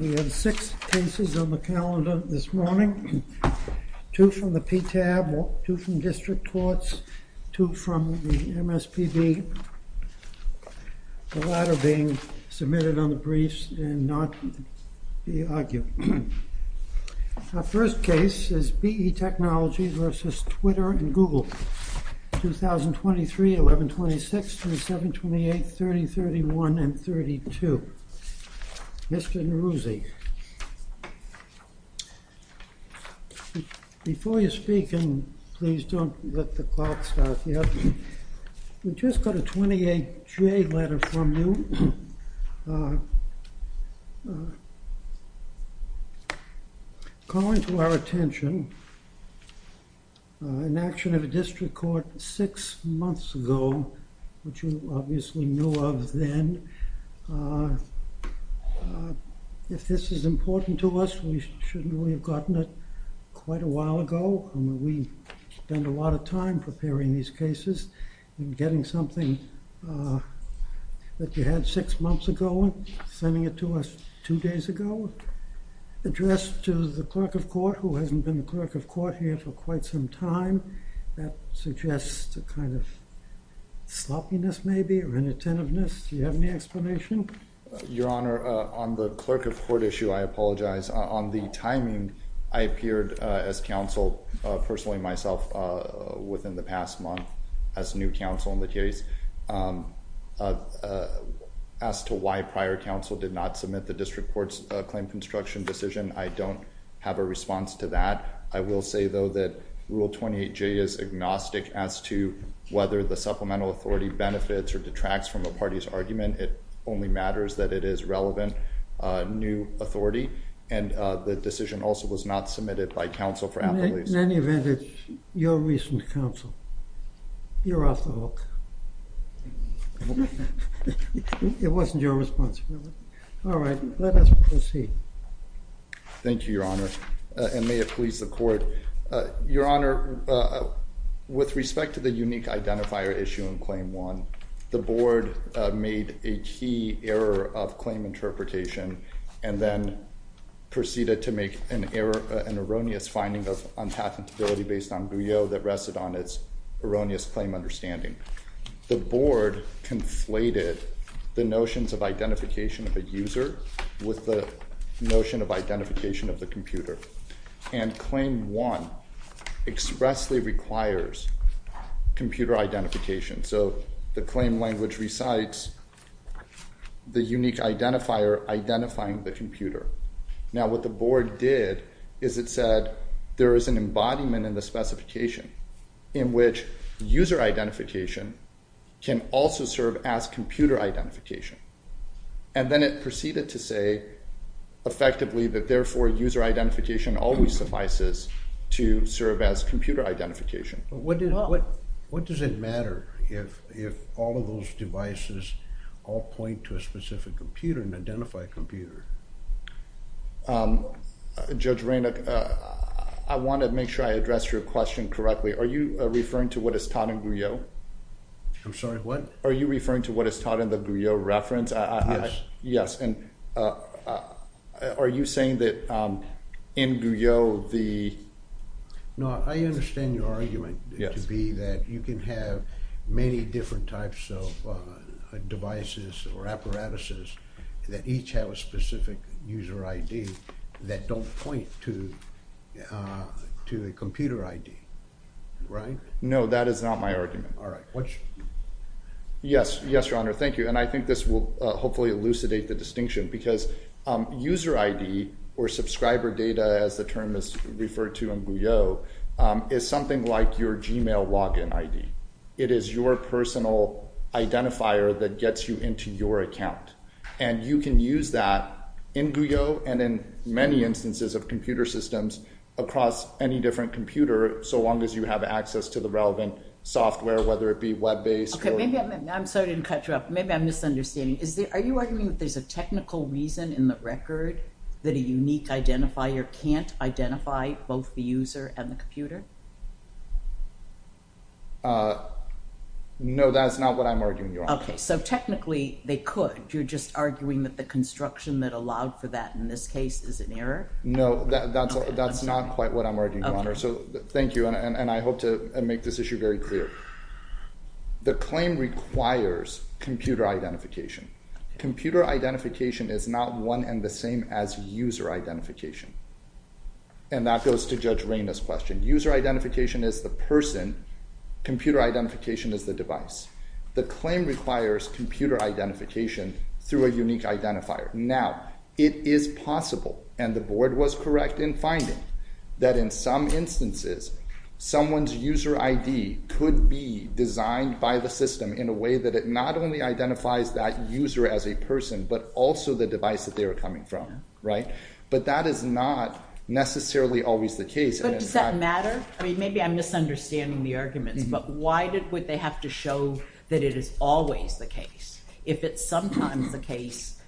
We have six cases on the calendar this morning, two from the PTAB, two from district courts, two from the MSPB, the latter being submitted on the briefs and not to be argued. Our first case is B.E. Technology v. Twitter and Google, 2023-11-26, 27-28, 30-31, and 32. Mr. Neruzzi, before you speak, and please don't let the clock start yet, we just got a 28-J letter from you. Calling to our attention an action of a district court six months ago, which you obviously knew of then. If this is important to us, we should have gotten it quite a while ago. I mean, we spend a lot of time preparing these cases and getting something that you had six months ago, sending it to us two days ago, addressed to the clerk of court who hasn't been the clerk of court here for quite some time. That suggests a kind of sloppiness maybe or inattentiveness. Do you have any explanation? Your Honor, on the clerk of court issue, I apologize. On the timing, I appeared as counsel personally myself within the past month as new counsel in the case. As to why prior counsel did not submit the district court's claim construction decision, I don't have a response to that. I will say, though, that Rule 28-J is agnostic as to whether the supplemental authority benefits or detracts from a party's argument. It only matters that it is relevant new authority, and the decision also was not submitted by counsel for appellees. In any event, it's your recent counsel. You're off the hook. It wasn't your responsibility. All right, let us proceed. Thank you, Your Honor, and may it please the court. Your Honor, with respect to the unique identifier issue in Claim 1, the board made a key error of claim interpretation and then proceeded to make an error, an erroneous finding of unpatentability based on Brio that rested on its erroneous claim understanding. The board conflated the notions of identification of a user with the notion of identification of the computer, and Claim 1 expressly requires computer identification. So the claim language recites the unique identifier identifying the computer. Now, what the board did is it said there is an embodiment in the specification in which user identification can also serve as computer identification, and then it proceeded to say effectively that therefore user identification always suffices to serve as computer identification. What does it matter if all of those devices all point to a specific computer, an identified computer? Judge Raynard, I want to make sure I addressed your question correctly. Are you referring to what is taught in the Guyot reference? I'm sorry, what? Are you referring to what is taught in the Guyot reference? Yes. Yes, and are you saying that in Guyot the... No, I understand your argument to be that you can have many different types of devices or apparatuses that each have a specific user ID that don't point to a computer ID, right? No, that is not my argument. All right. Yes, Your Honor, thank you, and I think this will hopefully elucidate the distinction because user ID or subscriber data as the term is referred to in Guyot is something like your Gmail login ID. It is your personal identifier that gets you into your account, and you can use that in Guyot and in many instances of computer systems across any different computer so long as you have access to the relevant software, whether it be web-based or... Okay, I'm sorry I didn't cut you off. Maybe I'm misunderstanding. Are you arguing that there's a technical reason in the record that a unique identifier can't identify both the user and the computer? No, that is not what I'm arguing, Your Honor. Okay, so technically they could. You're just arguing that the construction that allowed for that in this case is an error? No, that's not quite what I'm arguing, Your Honor. Okay. Okay, so thank you, and I hope to make this issue very clear. The claim requires computer identification. Computer identification is not one and the same as user identification, and that goes to Judge Reyna's question. User identification is the person. Computer identification is the device. The claim requires computer identification through a unique identifier. Now, it is possible, and the Board was correct in finding, that in some instances someone's user ID could be designed by the system in a way that it not only identifies that user as a person but also the device that they are coming from, right? But that is not necessarily always the case. But does that matter? I mean, maybe I'm misunderstanding the arguments, but why would they have to show that it is always the case? If it's sometimes the case,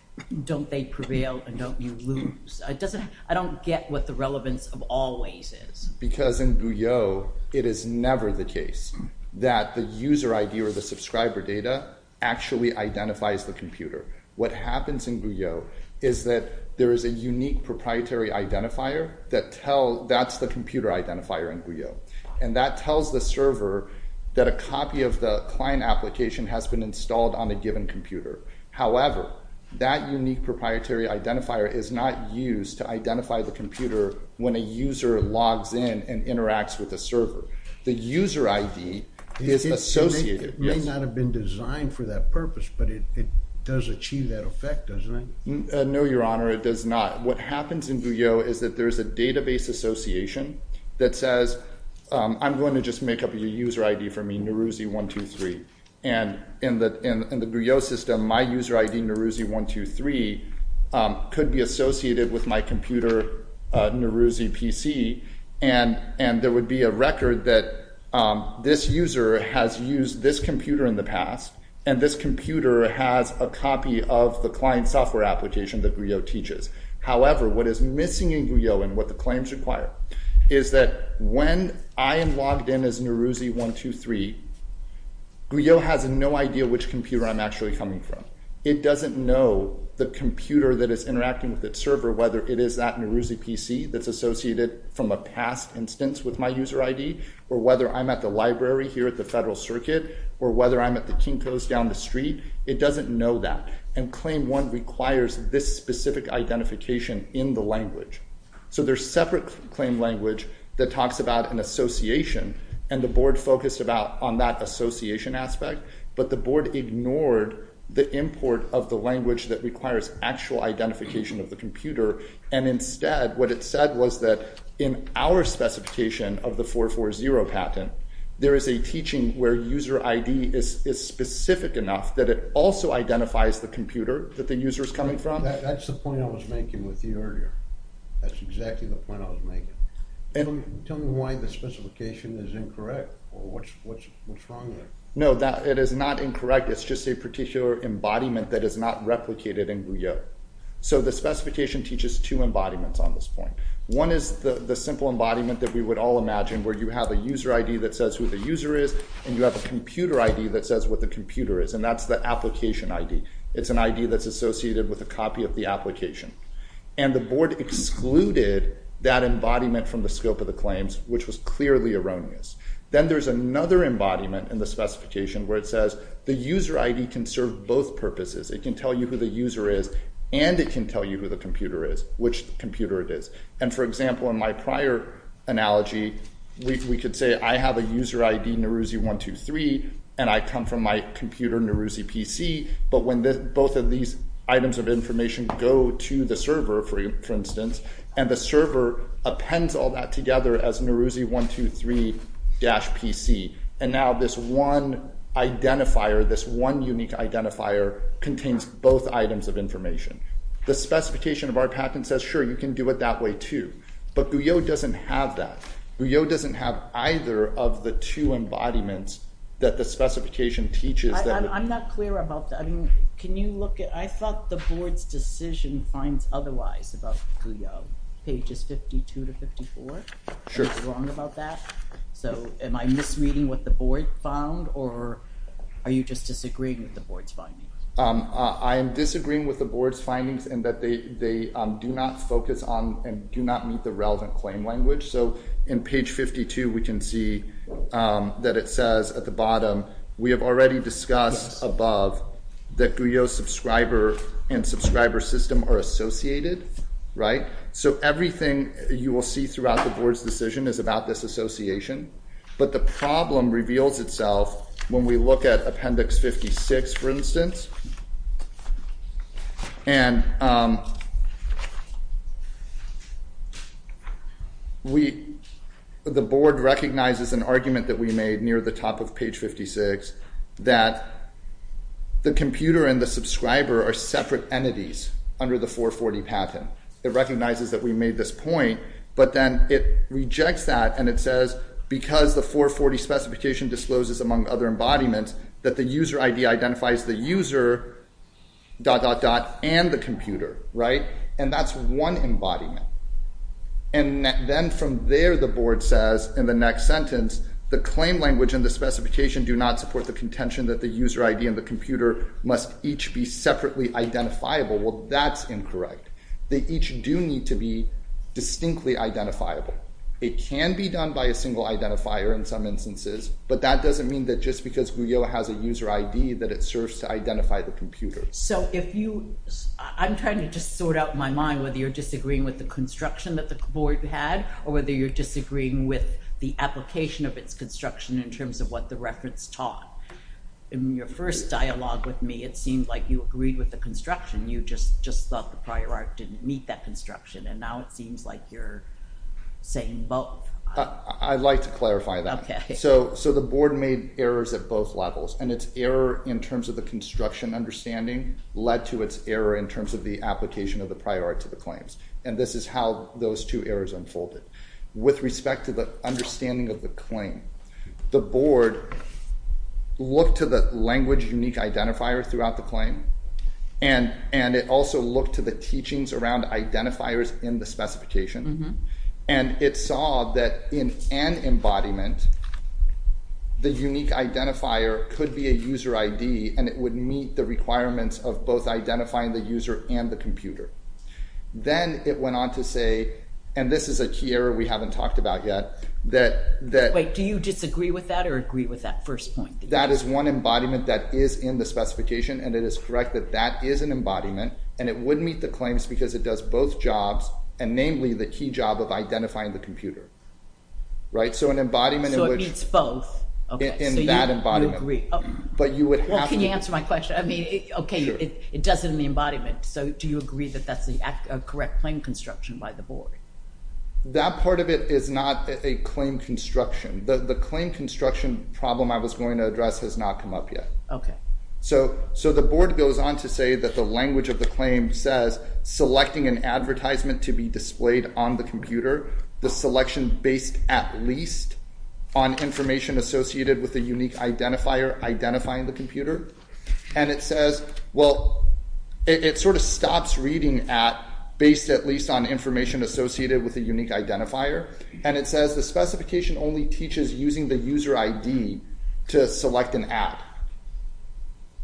don't they prevail and don't you lose? I don't get what the relevance of always is. Because in Guyot, it is never the case that the user ID or the subscriber data actually identifies the computer. What happens in Guyot is that there is a unique proprietary identifier that's the computer identifier in Guyot, and that tells the server that a copy of the client application has been installed on a given computer. However, that unique proprietary identifier is not used to identify the computer when a user logs in and interacts with the server. The user ID is associated. It may not have been designed for that purpose, but it does achieve that effect, doesn't it? No, Your Honor. It does not. What happens in Guyot is that there is a database association that says, I'm going to just make up your user ID for me, Neruzzi123. And in the Guyot system, my user ID, Neruzzi123, could be associated with my computer, NeruzziPC. And there would be a record that this user has used this computer in the past. And this computer has a copy of the client software application that Guyot teaches. However, what is missing in Guyot and what the claims require is that when I am logged in as Neruzzi123, Guyot has no idea which computer I'm actually coming from. It doesn't know the computer that is interacting with its server, whether it is that NeruzziPC that's associated from a past instance with my user ID, or whether I'm at the library here at the Federal Circuit, or whether I'm at the Kinko's down the street. It doesn't know that. And Claim 1 requires this specific identification in the language. So there's separate claim language that talks about an association, and the board focused on that association aspect, but the board ignored the import of the language that requires actual identification of the computer. And instead, what it said was that in our specification of the 440 patent, there is a teaching where user ID is specific enough that it also identifies the computer that the user is coming from. That's the point I was making with you earlier. That's exactly the point I was making. Tell me why the specification is incorrect. What's wrong there? No, it is not incorrect. It's just a particular embodiment that is not replicated in Guyot. So the specification teaches two embodiments on this point. One is the simple embodiment that we would all imagine where you have a user ID that says who the user is, and you have a computer ID that says what the computer is, and that's the application ID. It's an ID that's associated with a copy of the application. And the board excluded that embodiment from the scope of the claims, which was clearly erroneous. Then there's another embodiment in the specification where it says the user ID can serve both purposes. It can tell you who the user is, and it can tell you who the computer is, which computer it is. And, for example, in my prior analogy, we could say I have a user ID, Nehruzi123, and I come from my computer, NehruziPC. But when both of these items of information go to the server, for instance, and the server appends all that together as Nehruzi123-PC, and now this one identifier, this one unique identifier, contains both items of information. The specification of our patent says, sure, you can do it that way, too. But GUIO doesn't have that. GUIO doesn't have either of the two embodiments that the specification teaches. I'm not clear about that. Can you look at – I thought the board's decision finds otherwise about GUIO, pages 52 to 54. Sure. Am I wrong about that? So am I misreading what the board found, or are you just disagreeing with the board's findings? I am disagreeing with the board's findings in that they do not focus on and do not meet the relevant claim language. So in page 52, we can see that it says at the bottom, we have already discussed above that GUIO subscriber and subscriber system are associated, right? So everything you will see throughout the board's decision is about this association. But the problem reveals itself when we look at appendix 56, for instance. The board recognizes an argument that we made near the top of page 56 that the computer and the subscriber are separate entities under the 440 patent. It recognizes that we made this point, but then it rejects that, and it says because the 440 specification discloses, among other embodiments, that the user ID identifies the user, dot, dot, dot, and the computer, right? And that's one embodiment. And then from there, the board says in the next sentence, the claim language and the specification do not support the contention that the user ID and the computer must each be separately identifiable. Well, that's incorrect. They each do need to be distinctly identifiable. It can be done by a single identifier in some instances, but that doesn't mean that just because GUIO has a user ID that it serves to identify the computer. So if you – I'm trying to just sort out my mind whether you're disagreeing with the construction that the board had or whether you're disagreeing with the application of its construction in terms of what the reference taught. In your first dialogue with me, it seemed like you agreed with the construction. You just thought the prior art didn't meet that construction, and now it seems like you're saying both. I'd like to clarify that. So the board made errors at both levels, and its error in terms of the construction understanding led to its error in terms of the application of the prior art to the claims, and this is how those two errors unfolded. With respect to the understanding of the claim, the board looked to the language unique identifier throughout the claim, and it also looked to the teachings around identifiers in the specification, and it saw that in an embodiment, the unique identifier could be a user ID, and it would meet the requirements of both identifying the user and the computer. Then it went on to say – and this is a key error we haven't talked about yet. Wait. Do you disagree with that or agree with that first point? That is one embodiment that is in the specification, and it is correct that that is an embodiment, and it would meet the claims because it does both jobs, and namely the key job of identifying the computer. Right? So an embodiment in which – So it meets both. In that embodiment. You agree. But you would have to – Well, can you answer my question? I mean, okay. Sure. But that's in the embodiment, so do you agree that that's a correct claim construction by the board? That part of it is not a claim construction. The claim construction problem I was going to address has not come up yet. Okay. So the board goes on to say that the language of the claim says selecting an advertisement to be displayed on the computer, the selection based at least on information associated with a unique identifier identifying the computer, and it says – well, it sort of stops reading at based at least on information associated with a unique identifier, and it says the specification only teaches using the user ID to select an ad.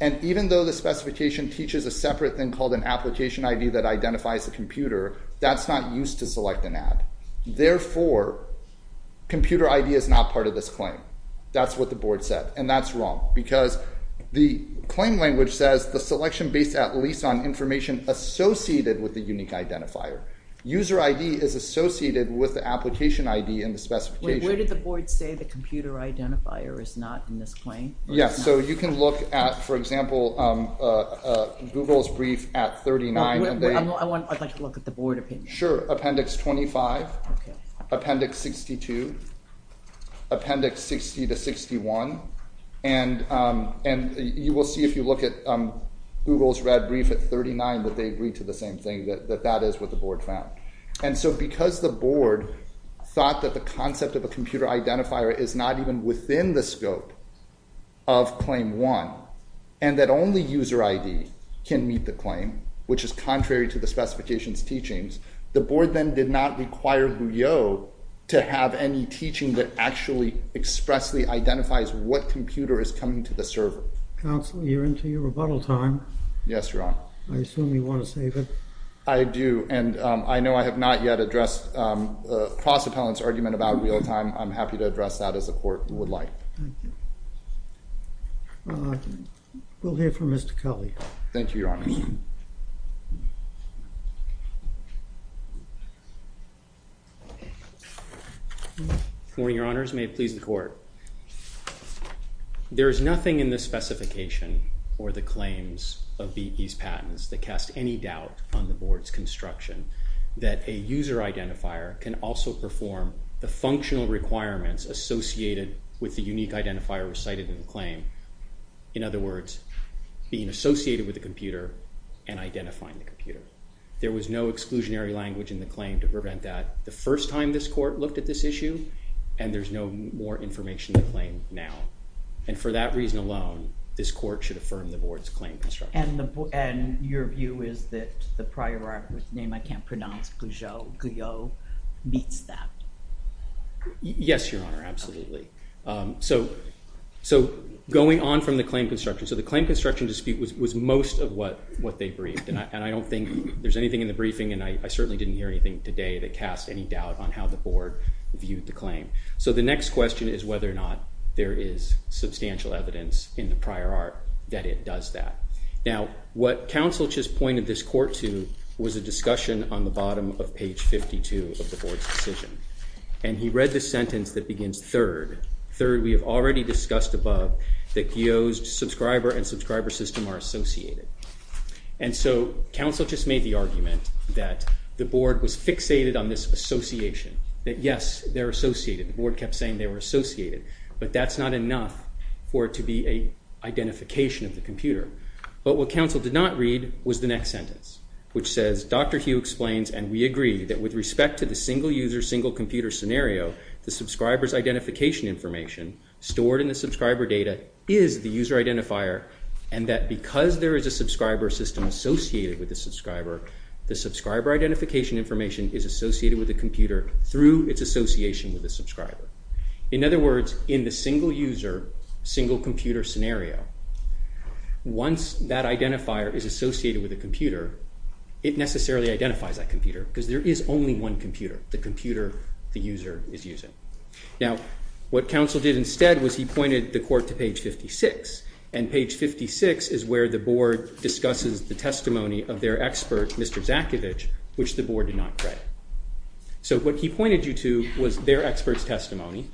And even though the specification teaches a separate thing called an application ID that identifies the computer, that's not used to select an ad. Therefore, computer ID is not part of this claim. That's what the board said, and that's wrong because the claim language says the selection based at least on information associated with the unique identifier. User ID is associated with the application ID in the specification. Wait. Where did the board say the computer identifier is not in this claim? Yes. So you can look at, for example, Google's brief at 39. I'd like to look at the board opinion. Sure. Appendix 25. Okay. Appendix 62. Appendix 60 to 61. And you will see if you look at Google's red brief at 39 that they agree to the same thing, that that is what the board found. And so because the board thought that the concept of a computer identifier is not even within the scope of Claim 1, and that only user ID can meet the claim, which is contrary to the specification's teachings, the board then did not require Buyo to have any teaching that actually expressly identifies what computer is coming to the server. Counselor, you're into your rebuttal time. Yes, Your Honor. I assume you want to save it. I do. And I know I have not yet addressed the cross-appellant's argument about real time. I'm happy to address that as the court would like. Thank you. We'll hear from Mr. Cully. Thank you, Your Honor. Good morning, Your Honors. May it please the court. There is nothing in the specification or the claims of BP's patents that cast any doubt on the board's construction that a user identifier can also perform the functional requirements associated with the unique identifier recited in the claim. In other words, being associated with a computer and identifying the computer. There was no exclusionary language in the claim to prevent that the first time this court looked at this issue, and there's no more information to claim now. And for that reason alone, this court should affirm the board's claim construction. And your view is that the prior art, whose name I can't pronounce, Buyo, meets that? Yes, Your Honor, absolutely. So going on from the claim construction. So the claim construction dispute was most of what they briefed, and I don't think there's anything in the briefing, and I certainly didn't hear anything today that cast any doubt on how the board viewed the claim. So the next question is whether or not there is substantial evidence in the prior art that it does that. Now, what counsel just pointed this court to was a discussion on the bottom of page 52 of the board's decision. And he read the sentence that begins third. Third, we have already discussed above that Buyo's subscriber and subscriber system are associated. And so counsel just made the argument that the board was fixated on this association, that yes, they're associated. The board kept saying they were associated, but that's not enough for it to be an identification of the computer. But what counsel did not read was the next sentence, which says, Dr. Hugh explains, and we agree, that with respect to the single-user, single-computer scenario, the subscriber's identification information stored in the subscriber data is the user identifier, and that because there is a subscriber system associated with the subscriber, the subscriber identification information is associated with the computer through its association with the subscriber. In other words, in the single-user, single-computer scenario, once that identifier is associated with a computer, it necessarily identifies that computer because there is only one computer, the computer the user is using. Now, what counsel did instead was he pointed the court to page 56, and page 56 is where the board discusses the testimony of their expert, Mr. Zakovich, which the board did not credit. So what he pointed you to was their expert's testimony,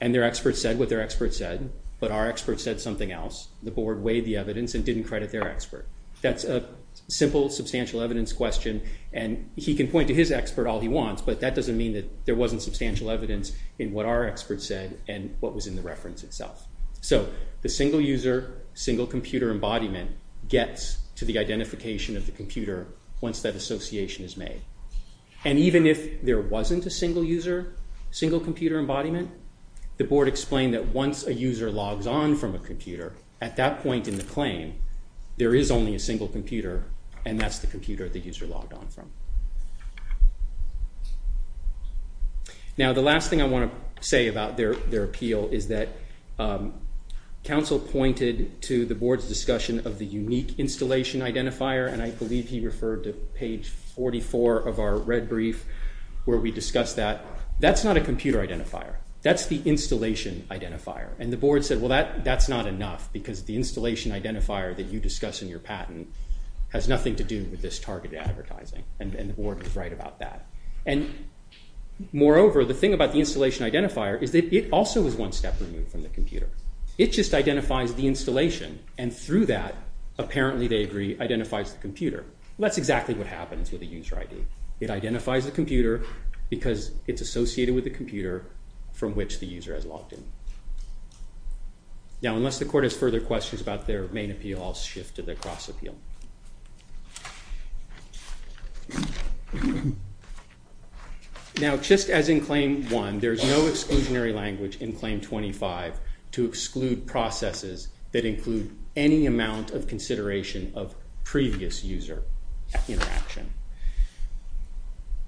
and their expert said what their expert said, but our expert said something else. The board weighed the evidence and didn't credit their expert. That's a simple, substantial evidence question, and he can point to his expert all he wants, but that doesn't mean that there wasn't substantial evidence in what our expert said and what was in the reference itself. So the single-user, single-computer embodiment gets to the identification of the computer once that association is made, and even if there wasn't a single-user, single-computer embodiment, the board explained that once a user logs on from a computer, at that point in the claim, there is only a single computer, and that's the computer the user logged on from. Now the last thing I want to say about their appeal is that counsel pointed to the board's discussion of the unique installation identifier, and I believe he referred to page 44 of our red brief where we discussed that. That's not a computer identifier. That's the installation identifier, and the board said, well, that's not enough, because the installation identifier that you discuss in your patent has nothing to do with this targeted advertising, and the board was right about that. And moreover, the thing about the installation identifier is that it also is one step removed from the computer. It just identifies the installation, and through that, apparently, they agree, identifies the computer. That's exactly what happens with a user ID. It identifies the computer because it's associated with the computer from which the user has logged in. Now unless the court has further questions about their main appeal, I'll shift to their cross appeal. Now just as in Claim 1, there's no exclusionary language in Claim 25 to exclude processes that include any amount of consideration of previous user interaction.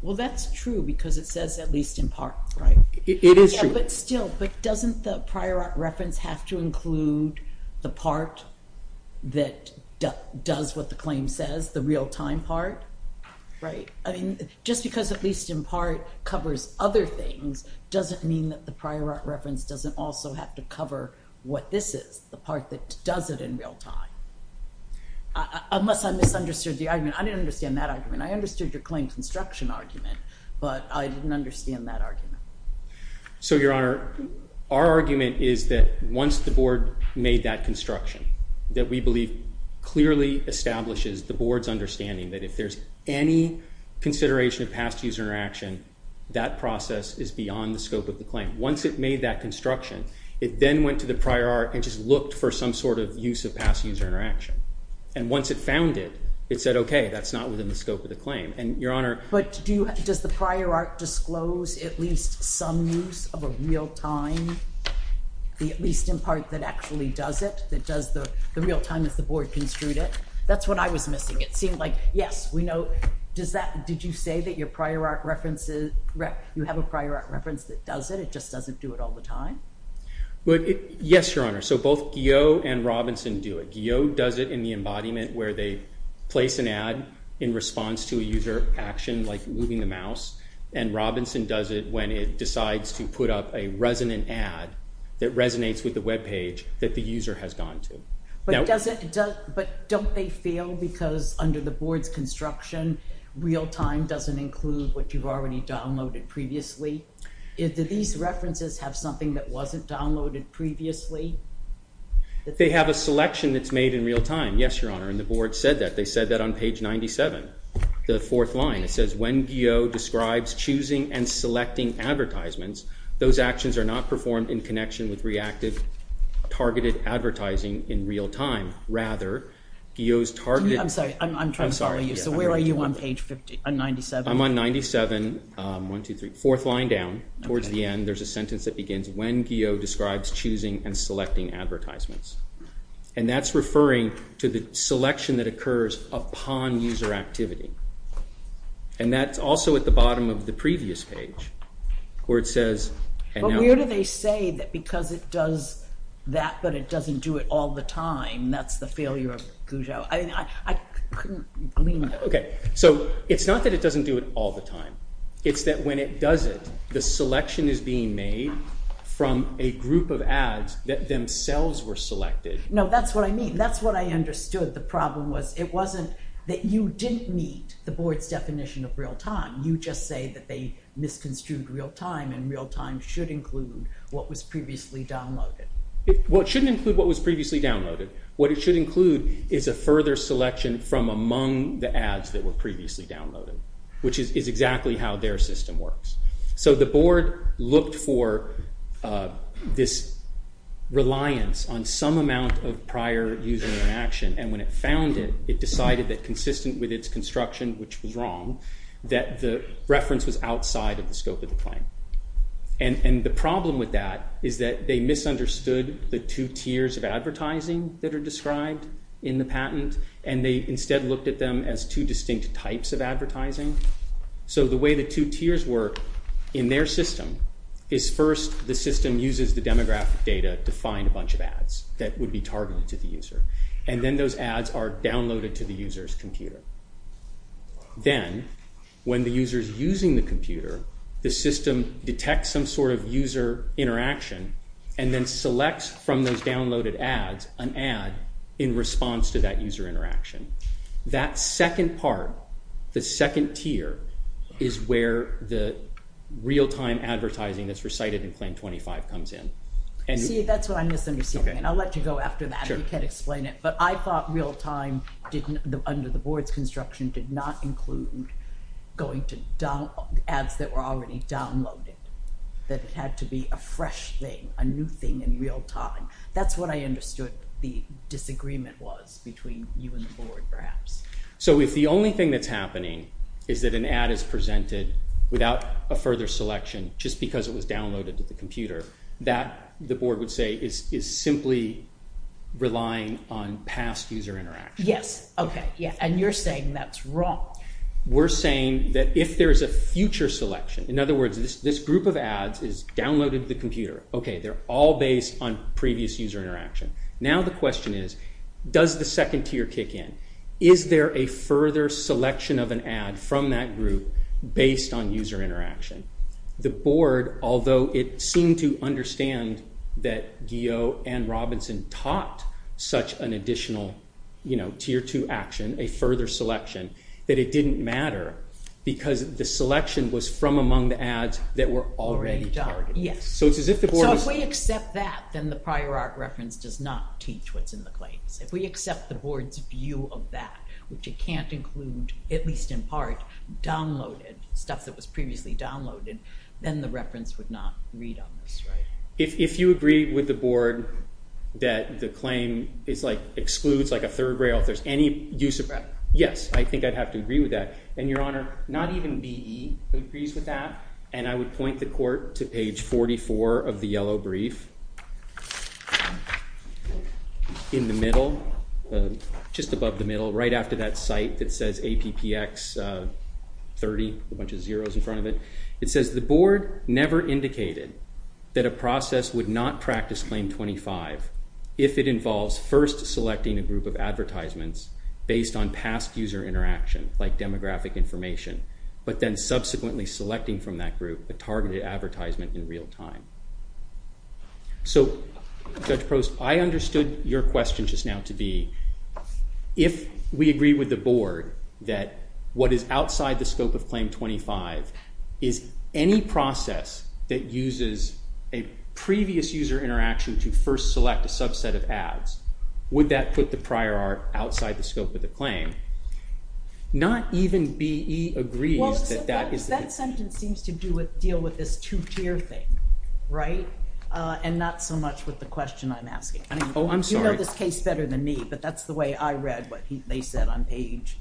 Well, that's true because it says at least in part, right? It is true. Yeah, but still, but doesn't the prior art reference have to include the part that does what the claim says, the real-time part, right? I mean, just because at least in part covers other things doesn't mean that the prior art reference doesn't also have to cover what this is, the part that does it in real time. Unless I misunderstood the argument. I didn't understand that argument. I understood your claim construction argument, but I didn't understand that argument. So, Your Honor, our argument is that once the Board made that construction, that we believe clearly establishes the Board's understanding that if there's any consideration of past user interaction, that process is beyond the scope of the claim. Once it made that construction, it then went to the prior art and just looked for some sort of use of past user interaction. And once it found it, it said, okay, that's not within the scope of the claim. But does the prior art disclose at least some use of a real-time, at least in part that actually does it, that does the real-time as the Board construed it? That's what I was missing. It seemed like, yes, we know. Did you say that you have a prior art reference that does it, it just doesn't do it all the time? Yes, Your Honor. So both Guyot and Robinson do it. Guyot does it in the embodiment where they place an ad in response to a user action like moving the mouse, and Robinson does it when it decides to put up a resonant ad that resonates with the web page that the user has gone to. But don't they fail because under the Board's construction, real-time doesn't include what you've already downloaded previously? Do these references have something that wasn't downloaded previously? They have a selection that's made in real-time. Yes, Your Honor, and the Board said that. They said that on page 97, the fourth line. It says, when Guyot describes choosing and selecting advertisements, those actions are not performed in connection with reactive targeted advertising in real-time. Rather, Guyot's targeted… I'm sorry, I'm trying to follow you. I'm sorry. So where are you on page 97? I'm on 97. One, two, three, fourth line down. Towards the end, there's a sentence that begins, when Guyot describes choosing and selecting advertisements. And that's referring to the selection that occurs upon user activity. And that's also at the bottom of the previous page where it says… But where do they say that because it does that but it doesn't do it all the time, that's the failure of Gougeout? I couldn't glean that. Okay, so it's not that it doesn't do it all the time. It's that when it does it, the selection is being made from a group of ads that themselves were selected. No, that's what I mean. That's what I understood the problem was. It wasn't that you didn't meet the Board's definition of real-time. You just say that they misconstrued real-time and real-time should include what was previously downloaded. Well, it shouldn't include what was previously downloaded. What it should include is a further selection from among the ads that were previously downloaded, which is exactly how their system works. So the Board looked for this reliance on some amount of prior user interaction. And when it found it, it decided that consistent with its construction, which was wrong, that the reference was outside of the scope of the claim. And the problem with that is that they misunderstood the two tiers of advertising that are described in the patent, and they instead looked at them as two distinct types of advertising. So the way the two tiers work in their system is first the system uses the demographic data to find a bunch of ads that would be targeted to the user. And then those ads are downloaded to the user's computer. Then when the user is using the computer, the system detects some sort of user interaction and then selects from those downloaded ads an ad in response to that user interaction. That second part, the second tier, is where the real-time advertising that's recited in Claim 25 comes in. See, that's what I'm misunderstanding, and I'll let you go after that if you can't explain it. But I thought real-time, under the board's construction, did not include going to ads that were already downloaded, that it had to be a fresh thing, a new thing in real-time. That's what I understood the disagreement was between you and the board, perhaps. So if the only thing that's happening is that an ad is presented without a further selection, just because it was downloaded to the computer, that, the board would say, is simply relying on past user interaction. Yes, okay, yeah, and you're saying that's wrong. We're saying that if there's a future selection, in other words, this group of ads is downloaded to the computer. Okay, they're all based on previous user interaction. Now the question is, does the second tier kick in? Is there a further selection of an ad from that group based on user interaction? The board, although it seemed to understand that Guyot and Robinson taught such an additional tier two action, a further selection, that it didn't matter because the selection was from among the ads that were already targeted. Yes, so if we accept that, then the prior art reference does not teach what's in the claims. If we accept the board's view of that, which it can't include, at least in part, downloaded, stuff that was previously downloaded, then the reference would not read on this, right? If you agree with the board that the claim excludes a third rail, if there's any use of that, yes, I think I'd have to agree with that. And Your Honor, not even BE agrees with that, and I would point the court to page 44 of the yellow brief. In the middle, just above the middle, right after that site that says APPX 30, a bunch of zeros in front of it, it says the board never indicated that a process would not practice claim 25 if it involves first selecting a group of advertisements based on past user interaction, like demographic information, but then subsequently selecting from that group a targeted advertisement in real time. So Judge Prost, I understood your question just now to be, if we agree with the board that what is outside the scope of claim 25 is any process that uses a previous user interaction to first select a subset of ads, would that put the prior art outside the scope of the claim? Not even BE agrees that that is the case. That sentence seems to deal with this two-tier thing, right? And not so much with the question I'm asking. Oh, I'm sorry. You know this case better than me, but that's the way I read what they said on page,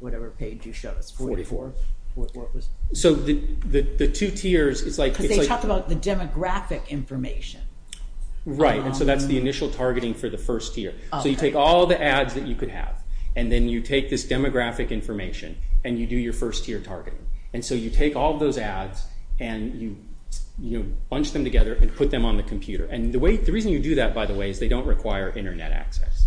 whatever page you showed us. 44. What was it? So the two tiers, it's like... Because they talk about the demographic information. Right, and so that's the initial targeting for the first tier. So you take all the ads that you could have, and then you take this demographic information, and you do your first tier targeting. And so you take all those ads and you bunch them together and put them on the computer. And the reason you do that, by the way, is they don't require Internet access.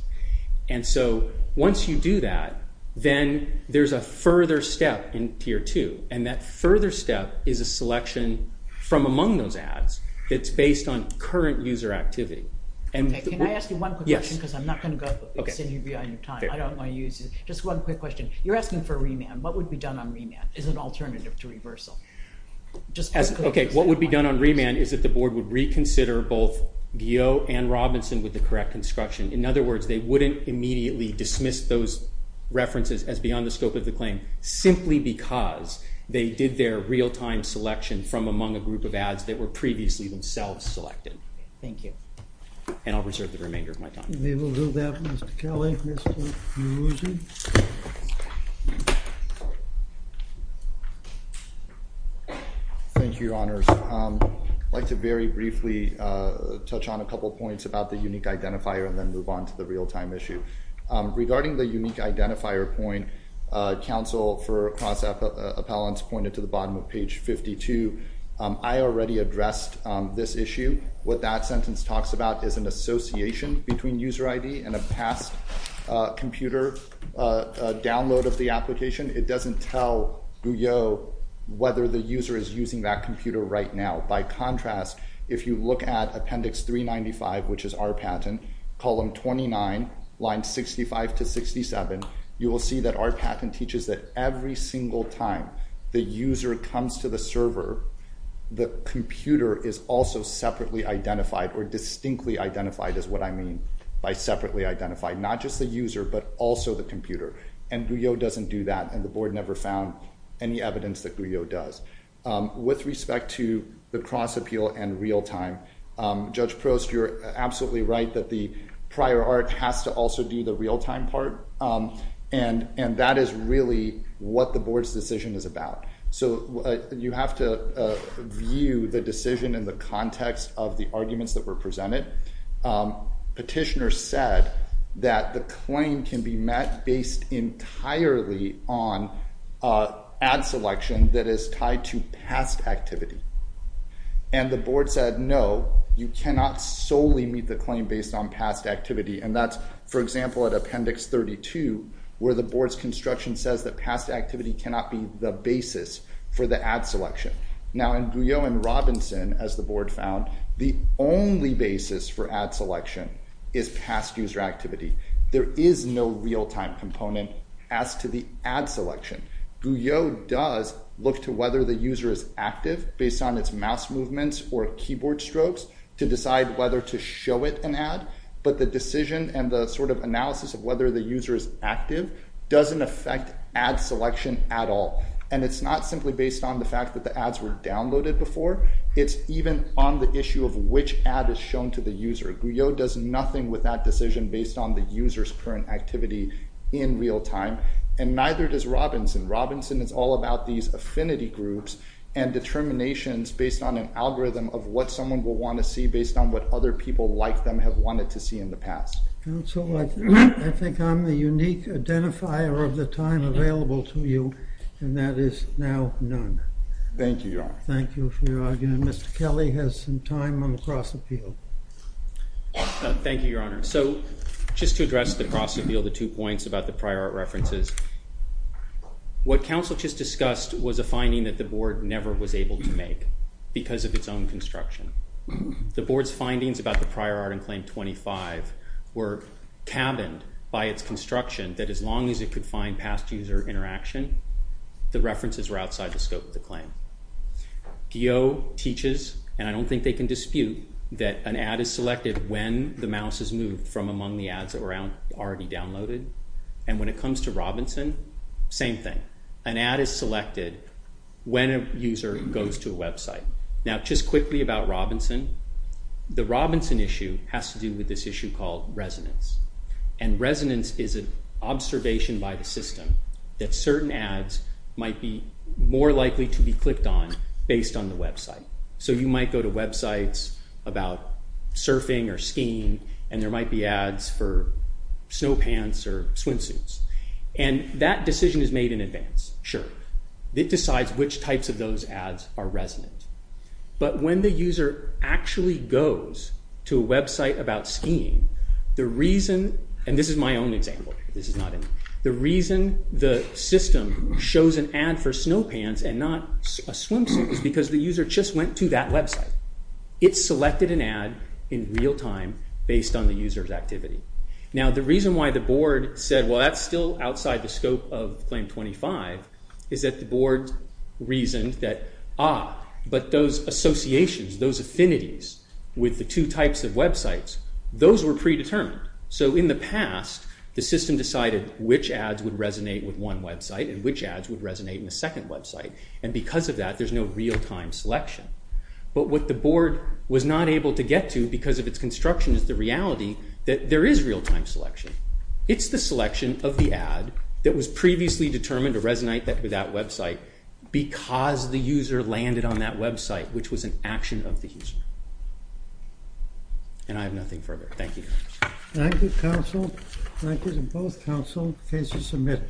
And so once you do that, then there's a further step in tier two, and that further step is a selection from among those ads that's based on current user activity. Can I ask you one quick question? Because I'm not going to send you behind your time. I don't want to use it. Just one quick question. You're asking for a remand. What would be done on remand as an alternative to reversal? Okay. What would be done on remand is that the board would reconsider both Geo and Robinson with the correct construction. In other words, they wouldn't immediately dismiss those references as beyond the scope of the claim simply because they did their real-time selection from among a group of ads that were previously themselves selected. Okay. Thank you. And I'll reserve the remainder of my time. We will do that, Mr. Kelly. Mr. Muzi. Thank you, Your Honors. I'd like to very briefly touch on a couple points about the unique identifier and then move on to the real-time issue. Regarding the unique identifier point, counsel for cross-appellants pointed to the bottom of page 52. I already addressed this issue. What that sentence talks about is an association between user ID and a past computer download of the application. It doesn't tell GUEO whether the user is using that computer right now. By contrast, if you look at appendix 395, which is our patent, column 29, line 65 to 67, you will see that our patent teaches that every single time the user comes to the server, the computer is also separately identified or distinctly identified is what I mean by separately identified. Not just the user, but also the computer. And GUEO doesn't do that, and the board never found any evidence that GUEO does. With respect to the cross-appeal and real-time, Judge Prost, you're absolutely right that the prior art has to also do the real-time part. And that is really what the board's decision is about. So you have to view the decision in the context of the arguments that were presented. Petitioner said that the claim can be met based entirely on ad selection that is tied to past activity. And the board said, no, you cannot solely meet the claim based on past activity. And that's, for example, at appendix 32, where the board's construction says that past activity cannot be the basis for the ad selection. Now, in GUEO and Robinson, as the board found, the only basis for ad selection is past user activity. There is no real-time component as to the ad selection. GUEO does look to whether the user is active based on its mouse movements or keyboard strokes to decide whether to show it an ad. But the decision and the sort of analysis of whether the user is active doesn't affect ad selection at all. And it's not simply based on the fact that the ads were downloaded before. It's even on the issue of which ad is shown to the user. GUEO does nothing with that decision based on the user's current activity in real time. And neither does Robinson. Robinson is all about these affinity groups and determinations based on an algorithm of what someone will want to see based on what other people like them have wanted to see in the past. Counsel, I think I'm the unique identifier of the time available to you. And that is now none. Thank you, Your Honor. Thank you for your argument. Mr. Kelly has some time on the cross appeal. Thank you, Your Honor. So just to address the cross appeal, the two points about the prior art references, what counsel just discussed was a finding that the board never was able to make because of its own construction. The board's findings about the prior art in Claim 25 were cabined by its construction that as long as it could find past user interaction, the references were outside the scope of the claim. GUEO teaches, and I don't think they can dispute, that an ad is selected when the mouse is moved from among the ads that were already downloaded. And when it comes to Robinson, same thing. An ad is selected when a user goes to a website. Now just quickly about Robinson. The Robinson issue has to do with this issue called resonance. And resonance is an observation by the system that certain ads might be more likely to be clicked on based on the website. So you might go to websites about surfing or skiing, and there might be ads for snow pants or swimsuits. And that decision is made in advance, sure. It decides which types of those ads are resonant. But when the user actually goes to a website about skiing, the reason – and this is my own example. This is not – the reason the system shows an ad for snow pants and not a swimsuit is because the user just went to that website. It selected an ad in real time based on the user's activity. Now the reason why the board said, well, that's still outside the scope of Claim 25, is that the board reasoned that, ah, but those associations, those affinities with the two types of websites, those were predetermined. So in the past, the system decided which ads would resonate with one website and which ads would resonate in the second website. And because of that, there's no real time selection. But what the board was not able to get to because of its construction is the reality that there is real time selection. It's the selection of the ad that was previously determined to resonate with that website because the user landed on that website, which was an action of the user. And I have nothing further. Thank you. Thank you, counsel. Thank you to both counsel, cases submitted.